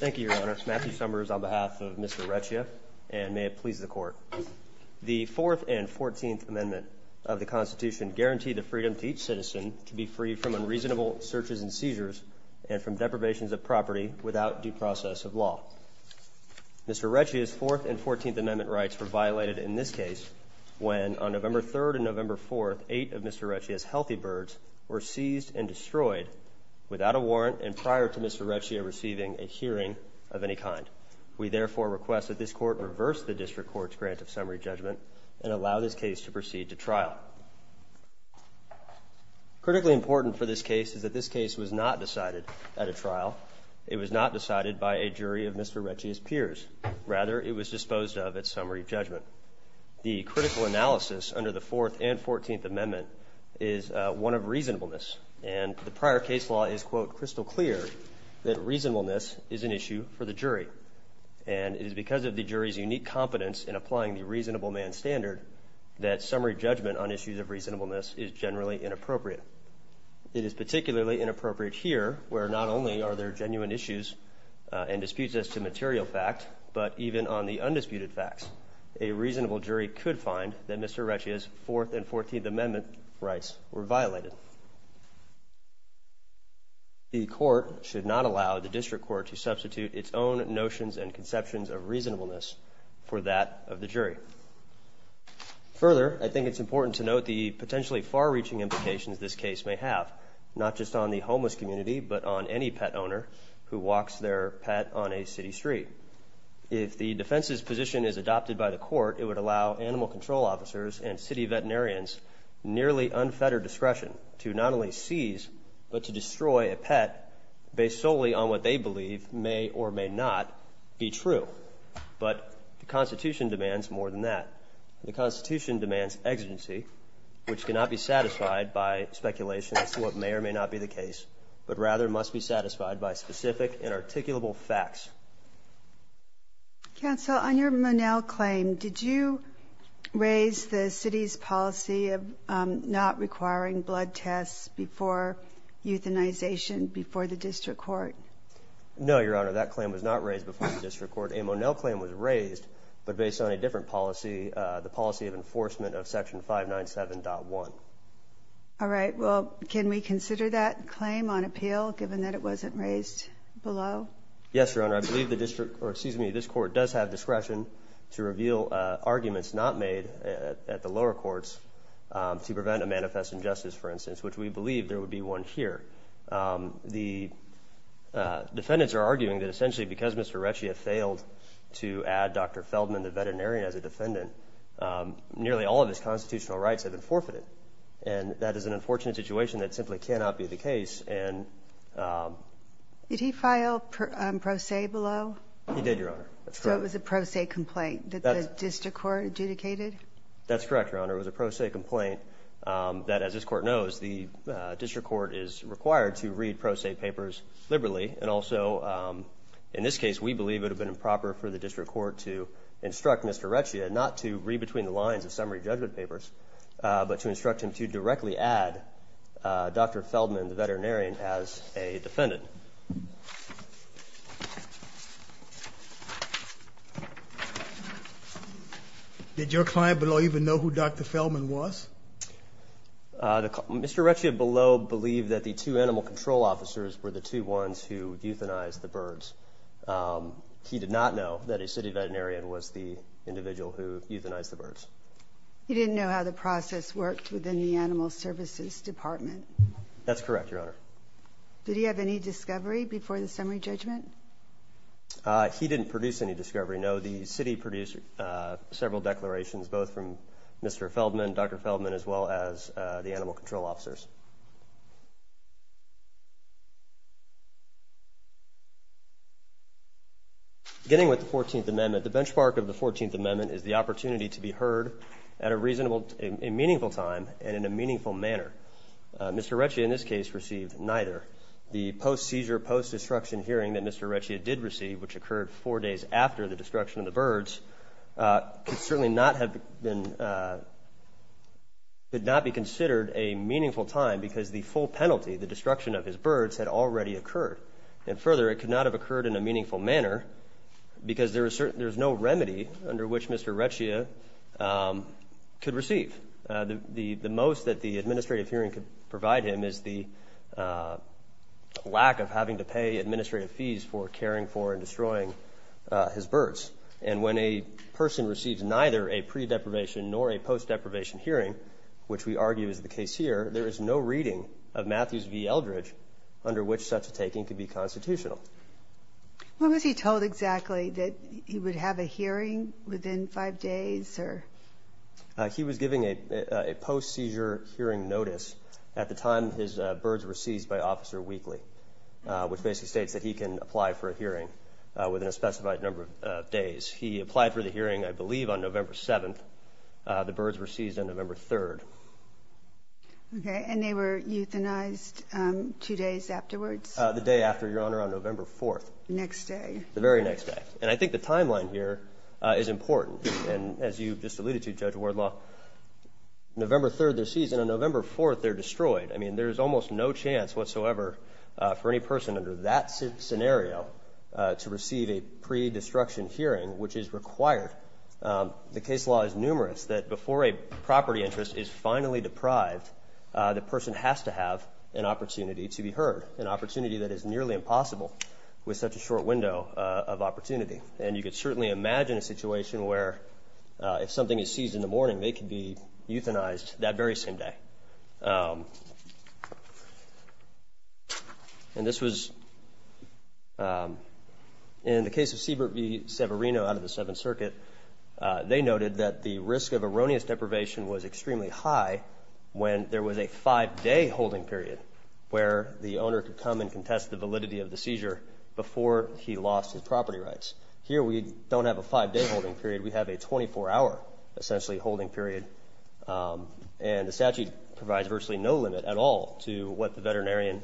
Thank you, Your Honor. Matthew Summers on behalf of Mr. Recchia and may it please the court. The 4th and 14th Amendment of the Constitution guaranteed the freedom to each citizen to be freed from unreasonable searches and seizures and from deprivations of property without due process of law. Mr. Recchia's 4th and 14th Amendment rights were violated in this case when on November 3rd and November 4th eight of Mr. Recchia's healthy birds were seized and prior to Mr. Recchia receiving a hearing of any kind. We therefore request that this court reverse the district court's grant of summary judgment and allow this case to proceed to trial. Critically important for this case is that this case was not decided at a trial. It was not decided by a jury of Mr. Recchia's peers. Rather it was disposed of at summary judgment. The critical analysis under the 4th and 14th Amendment is one of reasonableness and the prior case is quote crystal clear that reasonableness is an issue for the jury and it is because of the jury's unique competence in applying the reasonable man standard that summary judgment on issues of reasonableness is generally inappropriate. It is particularly inappropriate here where not only are there genuine issues and disputes as to material fact but even on the undisputed facts a reasonable jury could find that Mr. Recchia's 4th and 14th rights were violated. The court should not allow the district court to substitute its own notions and conceptions of reasonableness for that of the jury. Further I think it's important to note the potentially far-reaching implications this case may have not just on the homeless community but on any pet owner who walks their pet on a city street. If the defense's position is adopted by the court it would allow animal control officers and city veterinarians nearly unfettered discretion to not only seize but to destroy a pet based solely on what they believe may or may not be true. But the Constitution demands more than that. The Constitution demands exigency which cannot be satisfied by speculation as to what may or may not be the case but rather must be satisfied by specific and articulable facts. Counsel on your Monell claim did you raise the city's policy of not requiring blood tests before euthanization before the district court? No your honor that claim was not raised before the district court. A Monell claim was raised but based on a different policy the policy of enforcement of section 597.1. All right well can we consider that claim on appeal given that it wasn't raised below? Yes your honor I believe the district or excuse me this court does have discretion to reveal arguments not made at the lower courts to prevent a manifest injustice for instance which we believe there would be one here. The defendants are arguing that essentially because Mr. Retchie had failed to add Dr. Feldman the veterinarian as a defendant nearly all of his constitutional rights have been forfeited and that is an unfortunate situation that simply cannot be the case and. Did he file pro se below? He did your honor. So it was a pro se complaint that the district court adjudicated? That's correct your honor it was a pro se complaint that as this court knows the district court is required to read pro se papers liberally and also in this case we believe it would have been improper for the district court to instruct Mr. Retchie and not to read between the lines of summary judgment papers but to directly add Dr. Feldman the veterinarian as a defendant. Did your client below even know who Dr. Feldman was? Mr. Retchie below believed that the two animal control officers were the two ones who euthanized the birds. He did not know that a city veterinarian was the individual who euthanized the birds. He didn't know how the process worked within the animal services department? That's correct your honor. Did he have any discovery before the summary judgment? He didn't produce any discovery no the city produced several declarations both from Mr. Feldman, Dr. Feldman as well as the animal control officers. Beginning with the 14th amendment the benchmark of the 14th amendment is the meaningful time and in a meaningful manner. Mr. Retchie in this case received neither. The post-seizure post-destruction hearing that Mr. Retchie did receive which occurred four days after the destruction of the birds could certainly not have been could not be considered a meaningful time because the full penalty the destruction of his birds had already occurred and further it could not have occurred in a meaningful manner because there is certain there's no remedy under which Mr. Retchie could receive. The most that the administrative hearing could provide him is the lack of having to pay administrative fees for caring for and destroying his birds and when a person receives neither a pre-deprivation nor a post-deprivation hearing which we argue is the case here there is no reading of Matthews v. Eldridge under which such a hearing within five days? He was giving a post-seizure hearing notice at the time his birds were seized by officer Wheatley which basically states that he can apply for a hearing within a specified number of days. He applied for the hearing I believe on November 7th the birds were seized on November 3rd. Okay and they were euthanized two days afterwards? The day after your honor on November 3rd their seizure is important and as you just alluded to Judge Wardlaw November 3rd their seized and on November 4th they're destroyed I mean there's almost no chance whatsoever for any person under that scenario to receive a pre-destruction hearing which is required. The case law is numerous that before a property interest is finally deprived the person has to have an opportunity to be heard an opportunity that is nearly impossible with such a situation where if something is seized in the morning they can be euthanized that very same day and this was in the case of Siebert v. Severino out of the Seventh Circuit they noted that the risk of erroneous deprivation was extremely high when there was a five-day holding period where the owner could come and contest the validity of the seizure before he lost his property rights. Here we don't have a five-day holding period we have a 24-hour essentially holding period and the statute provides virtually no limit at all to what the veterinarian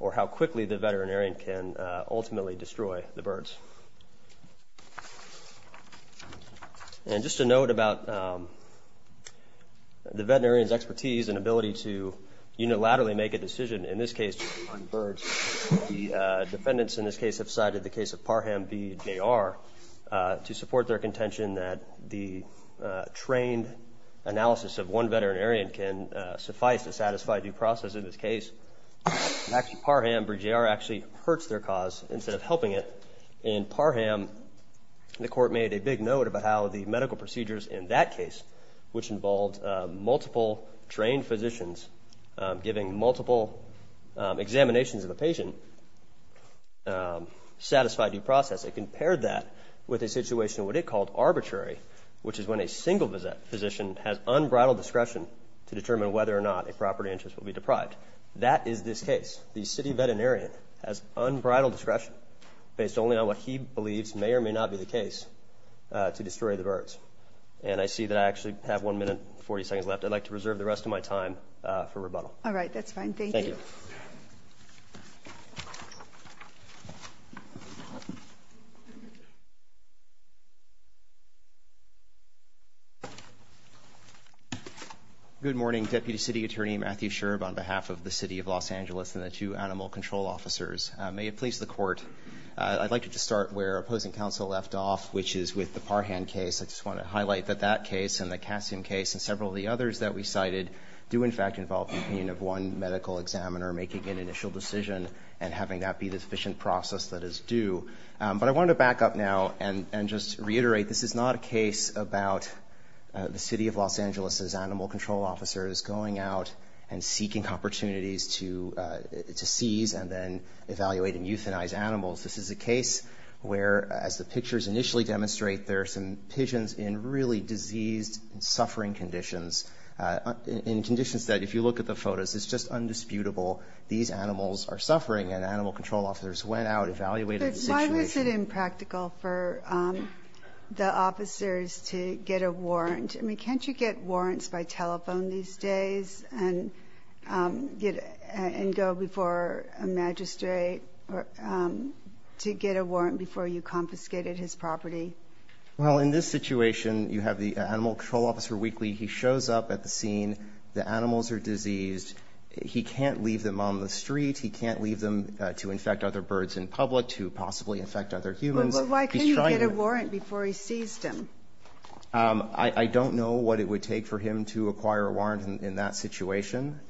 or how quickly the veterinarian can ultimately destroy the birds. And just a note about the veterinarian's expertise and ability to unilaterally make a decision in this case on birds the defendants in this case have cited the case of Parham v. J.R. to support their contention that the trained analysis of one veterinarian can suffice to satisfy due process in this case. Parham v. J.R. actually hurts their cause instead of helping it. In Parham the court made a big note about how the medical procedures in that case which involved multiple trained physicians giving multiple examinations of a satisfied due process it compared that with a situation what it called arbitrary which is when a single visit physician has unbridled discretion to determine whether or not a property interest will be deprived. That is this case the city veterinarian has unbridled discretion based only on what he believes may or may not be the case to destroy the birds. And I see that I actually have one minute 40 seconds left I'd like to reserve the rest of my time for rebuttal. All right that's fine. Thank you. Good morning Deputy City Attorney Matthew Sherb on behalf of the City of Los Angeles and the two animal control officers. May it please the court I'd like to just start where opposing counsel left off which is with the Parham case I just want to highlight that that case and the Cassium case and several of others that we cited do in fact involve the opinion of one medical examiner making an initial decision and having that be the sufficient process that is due. But I wanted to back up now and and just reiterate this is not a case about the City of Los Angeles's animal control officers going out and seeking opportunities to seize and then evaluate and euthanize animals. This is a case where as the pictures initially demonstrate there are some pigeons in really diseased and suffering conditions. In conditions that if you look at the photos it's just undisputable these animals are suffering and animal control officers went out evaluated the situation. Why was it impractical for the officers to get a warrant? I mean can't you get warrants by telephone these days and get and go before a magistrate to get a warrant before you confiscated his property? Well in this situation you have the animal control officer weekly he shows up at the scene. The animals are diseased. He can't leave them on the street. He can't leave them to infect other birds in public to possibly infect other humans. But why couldn't he get a warrant before he seized them? I don't know what it would take for him to acquire a warrant in that situation.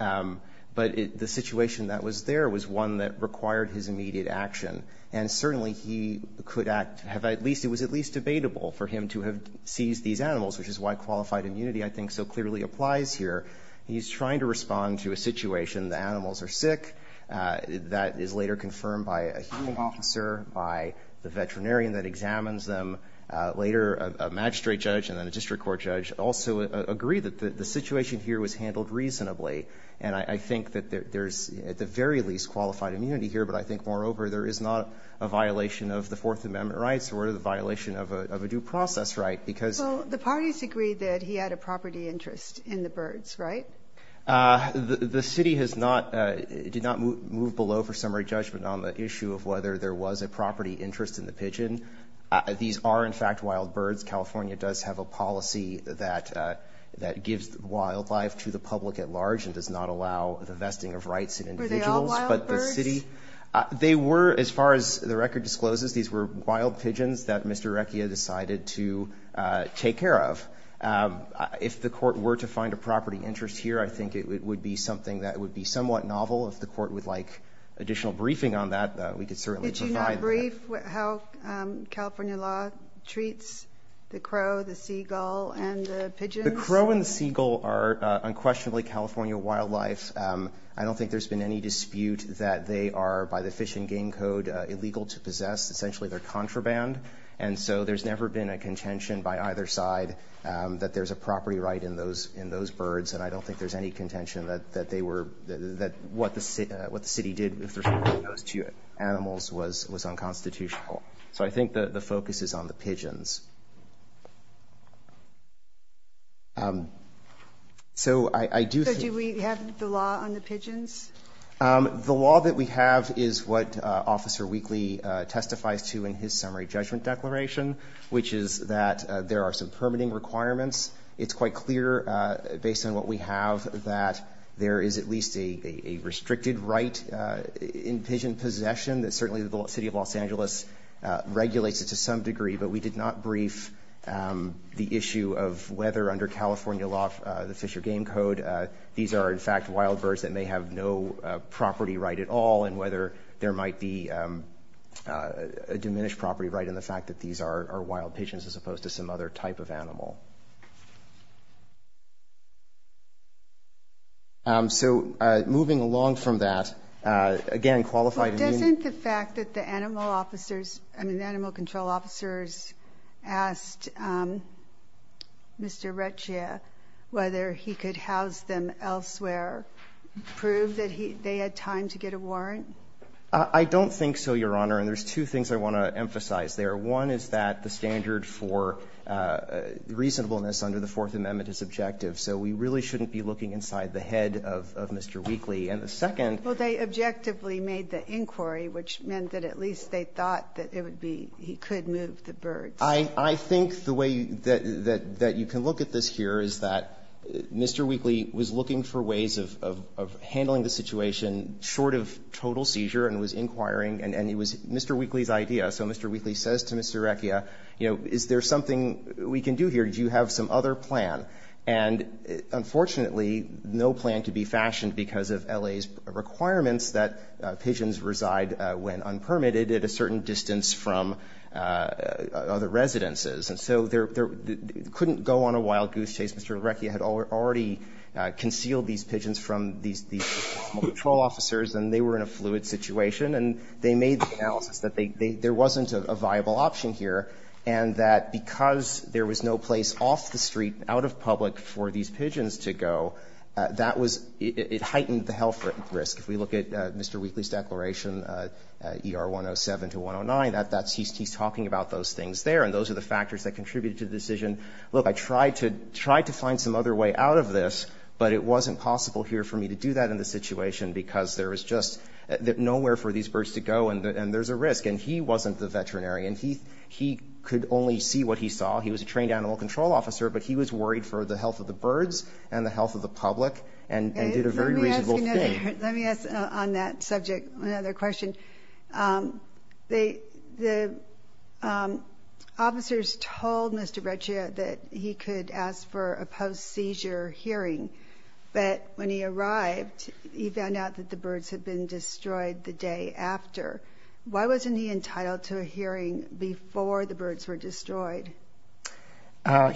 But the situation that was there was one that required his immediate action. And certainly he could act have at least it was at least debatable for him to have seized these animals which is why qualified immunity I think so clearly applies here. He's trying to respond to a situation the animals are sick. That is later confirmed by a human officer by the veterinarian that examines them. Later a magistrate judge and then a district court judge also agree that the situation here was handled reasonably. And I think that there's at the very least qualified immunity here but I think moreover there is not a violation of the Fourth Amendment rights or the violation of a due process right. Because the parties agreed that he had a property interest in the birds right? The city has not did not move below for summary judgment on the issue of whether there was a property interest in the pigeon. These are in fact wild birds. California does have a policy that gives wildlife to the public at large and does not allow the vesting of rights in individuals. Were they all wild birds? They were as far as the record discloses these were wild pigeons that Mr. Recchia decided to take care of. If the court were to find a property interest here I think it would be something that would be somewhat novel. If the court would like additional briefing on that we could certainly provide that. Would you not brief how California law treats the crow, the seagull and the pigeons? The crow and the seagull are unquestionably California wildlife. I don't think there's been any dispute that they are by the Fish and Game Code illegal to possess. Essentially they're contraband and so there's never been a contention by either side that there's a property right in those birds. And I don't think there's any contention that what the city did with respect to those two animals was unconstitutional. So I think the focus is on the pigeons. So I do think So do we have the law on the pigeons? The law that we have is what Officer Weakley testifies to in his summary judgment declaration, which is that there are some permitting requirements. It's quite clear based on what we have that there is at least a restricted right in pigeon possession that certainly the city of Los Angeles regulates it to some degree. But we did not brief the issue of whether under California law, the Fish and Game Code, these are in fact wild birds that may have no property right at all and whether there might be a diminished property right in the fact that these are wild pigeons as opposed to some other type of animal. So moving along from that, again, qualify to mean Well, doesn't the fact that the animal officers, I mean the animal control officers asked Mr. Rechia whether he could house them elsewhere prove that they had time to get a warrant? I don't think so, Your Honor. And there's two things I want to emphasize there. One is that the standard for reasonableness under the Fourth Amendment is objective. So we really shouldn't be looking inside the head of Mr. Weakley. And the second Well, they objectively made the inquiry, which meant that at least they thought that it would be he could move the birds. I think the way that you can look at this here is that Mr. Weakley was looking for ways of handling the situation short of total seizure and was inquiring and it was Mr. Weakley's idea. So Mr. Weakley says to Mr. Rechia, you know, is there something we can do here? Do you have some other plan? And unfortunately, no plan could be fashioned because of L.A.'s requirements that pigeons reside when unpermitted at a certain distance from other residences. And so there couldn't go on a wild goose chase. Mr. Rechia had already concealed these pigeons from these animal control officers and they were in a fluid situation. And they made the analysis that there wasn't a viable option here and that because there was no place off the street, out of public for these pigeons to go, that was – it heightened the health risk. If we look at Mr. Weakley's declaration, ER 107 to 109, he's talking about those things there and those are the factors that contributed to the decision. Look, I tried to find some other way out of this, but it wasn't possible here for these birds to go and there's a risk. And he wasn't the veterinary. And he could only see what he saw. He was a trained animal control officer, but he was worried for the health of the birds and the health of the public and did a very reasonable thing. Let me ask on that subject another question. The officers told Mr. Rechia that he could ask for a post-seizure hearing, but when he arrived, he found out that the birds had been destroyed the day after. Why wasn't he entitled to a hearing before the birds were destroyed?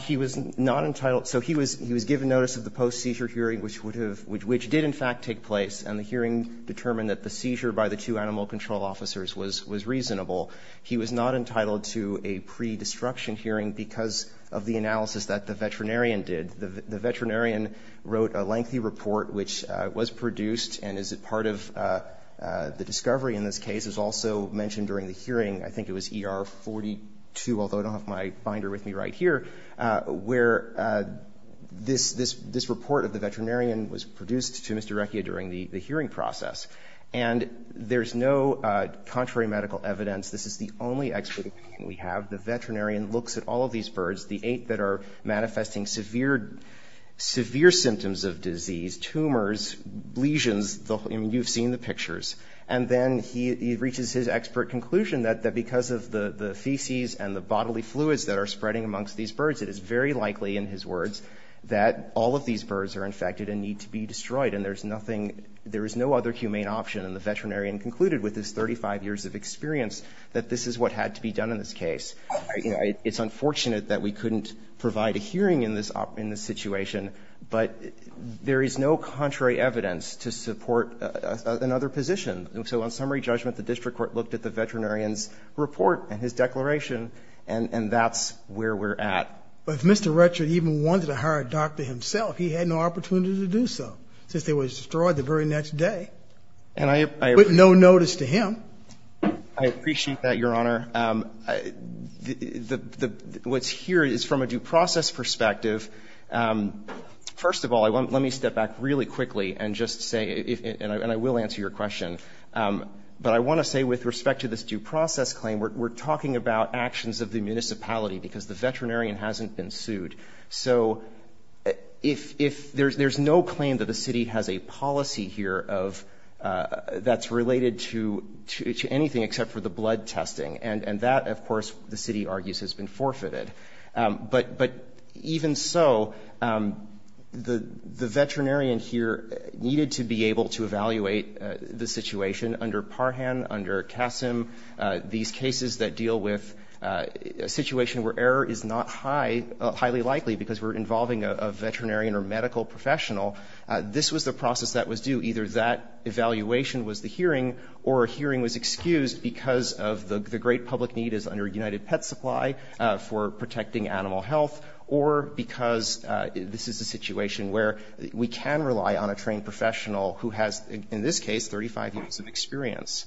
He was not entitled – so he was given notice of the post-seizure hearing, which did in fact take place, and the hearing determined that the seizure by the two animal control officers was reasonable. He was not entitled to a pre-destruction hearing because of the analysis that the veterinarian did. The veterinarian wrote a lengthy report, which was produced and is a part of the discovery in this case. It was also mentioned during the hearing. I think it was ER 42, although I don't have my binder with me right here, where this report of the veterinarian was produced to Mr. Rechia during the hearing process. And there's no contrary medical evidence. This is the only expert opinion we have. The veterinarian looks at all of these birds, the eight that are manifesting severe symptoms of disease, tumors, lesions, and you've seen the pictures. And then he reaches his expert conclusion that because of the feces and the bodily fluids that are spreading amongst these birds, it is very likely, in his words, that all of these birds are infected and need to be destroyed, and there's nothing – there is no other humane option. And the veterinarian concluded with his 35 years of experience that this is what had to be done in this case. It's unfortunate that we couldn't provide a hearing in this situation, but there is no contrary evidence to support another position. So on summary judgment, the district court looked at the veterinarian's report and his declaration, and that's where we're at. But if Mr. Rechia even wanted to hire a doctor himself, he had no opportunity to do so, since they were destroyed the very next day. And I – But no notice to him. I appreciate that, Your Honor. What's here is from a due process perspective. First of all, let me step back really quickly and just say, and I will answer your question, but I want to say with respect to this due process claim, we're talking about actions of the municipality, because the veterinarian hasn't been sued. So if – there's no claim that the city has a policy here of – that's related to anything except for the blood testing. And that, of course, the city argues has been forfeited. But even so, the veterinarian here needed to be able to evaluate the situation under Parhan, under Kassim, these cases that deal with a situation where error is not high – highly likely, because we're involving a veterinarian or medical professional. This was the process that was due. Either that evaluation was the hearing, or a hearing was excused because of the great public need as under United Pet Supply for protecting animal health, or because this is a situation where we can rely on a trained professional who has, in this case, 35 years of experience.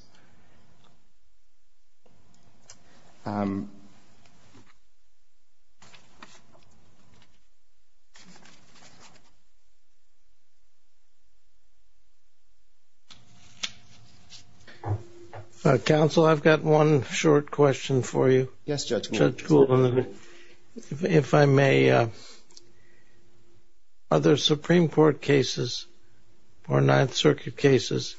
Counsel, I've got one short question for you. Yes, Judge. If I may, are there Supreme Court cases or Ninth Circuit cases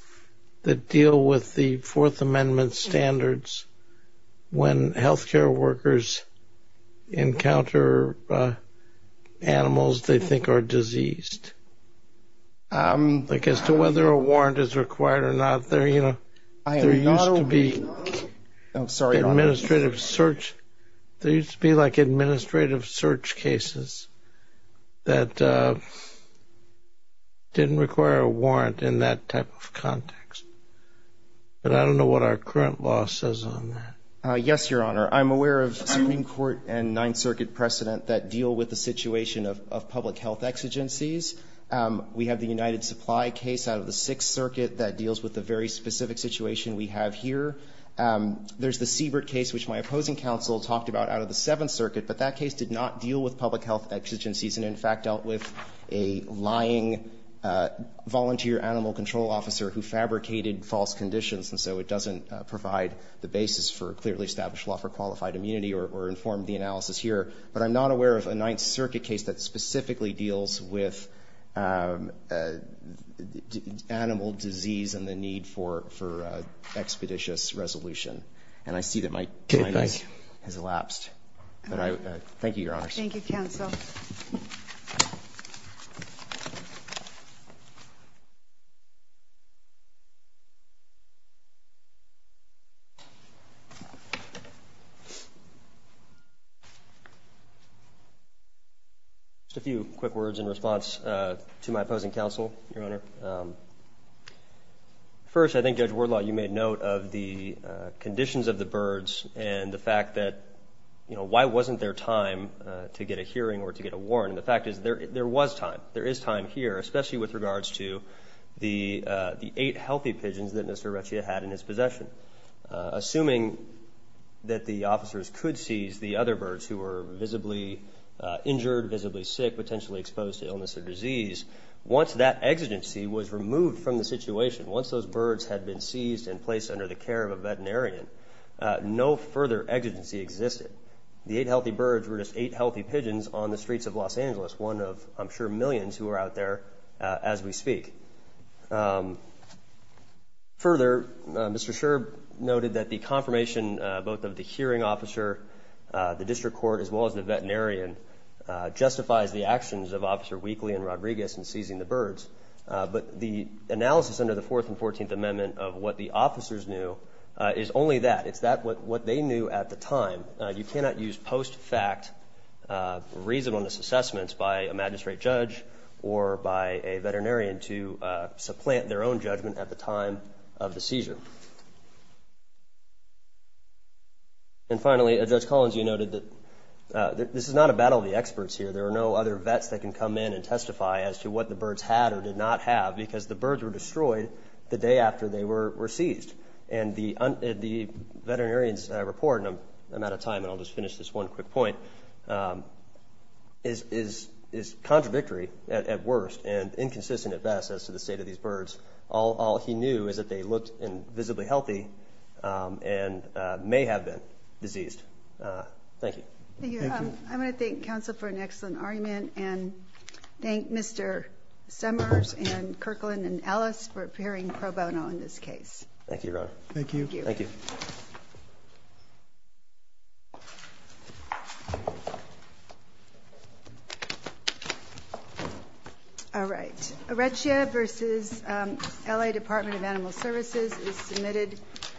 that deal with the Fourth Amendment standards when health care workers encounter animals they think are diseased? Like as to whether a warrant is required or not. There used to be like administrative search cases that didn't require a warrant in that type of context. But I don't know what our current law says on that. Yes, Your Honor. I'm aware of Supreme Court and Ninth Circuit precedent that deal with the situation of public health exigencies. We have the United Supply case out of the Sixth Circuit that deals with the very specific situation we have here. There's the Siebert case, which my opposing counsel talked about out of the Seventh Circuit, but that case did not deal with public health exigencies, and in fact dealt with a lying volunteer animal control officer who fabricated false conditions, and so it doesn't provide the basis for a clearly established law for qualified immunity or informed the analysis here. But I'm not aware of a Ninth Circuit case that specifically deals with animal disease and the need for expeditious resolution. And I see that my time has elapsed. Thank you, Your Honors. Thank you, counsel. Just a few quick words in response to my opposing counsel, Your Honor. First, I think, Judge Wardlaw, you made note of the conditions of the birds and the fact that, you know, why wasn't there time to get a hearing or to get a warrant? And the fact is there was time. There is time here, especially with regards to the eight healthy pigeons that Mr. Rechia had in his possession. Assuming that the officers could seize the other birds who were visibly injured, visibly sick, potentially exposed to illness or disease, once that exigency was removed from the situation, once those birds had been seized and placed under the care of a veterinarian, no further exigency existed. The eight healthy birds were just eight healthy pigeons on the streets of Los Angeles, one of, I'm sure, millions who are out there as we speak. Further, Mr. Sherb noted that the confirmation, both of the hearing officer, the district court, as well as the veterinarian, justifies the actions of Officer Weakley and Rodriguez in seizing the birds. But the analysis under the Fourth and Fourteenth Amendment of what the officers knew is only that. It's that what they knew at the time. You cannot use post-fact reasonableness assessments by a magistrate judge or by a judge to supplant their own judgment at the time of the seizure. And finally, Judge Collins, you noted that this is not a battle of the experts here. There are no other vets that can come in and testify as to what the birds had or did not have because the birds were destroyed the day after they were seized. And the veterinarian's report, and I'm out of time and I'll just finish this one quick point, is contradictory at worst and inconsistent at best as to the state of these birds. All he knew is that they looked visibly healthy and may have been diseased. Thank you. Thank you. I want to thank counsel for an excellent argument and thank Mr. Summers and Kirkland and Ellis for appearing pro bono in this case. Thank you, Your Honor. Thank you. Thank you. Thank you. Thank you. Thank you. Thank you. Thank you. Thank you. Thank you. Thank you. All right. Arrechia v. L.A. Department of Animal Services is submitted.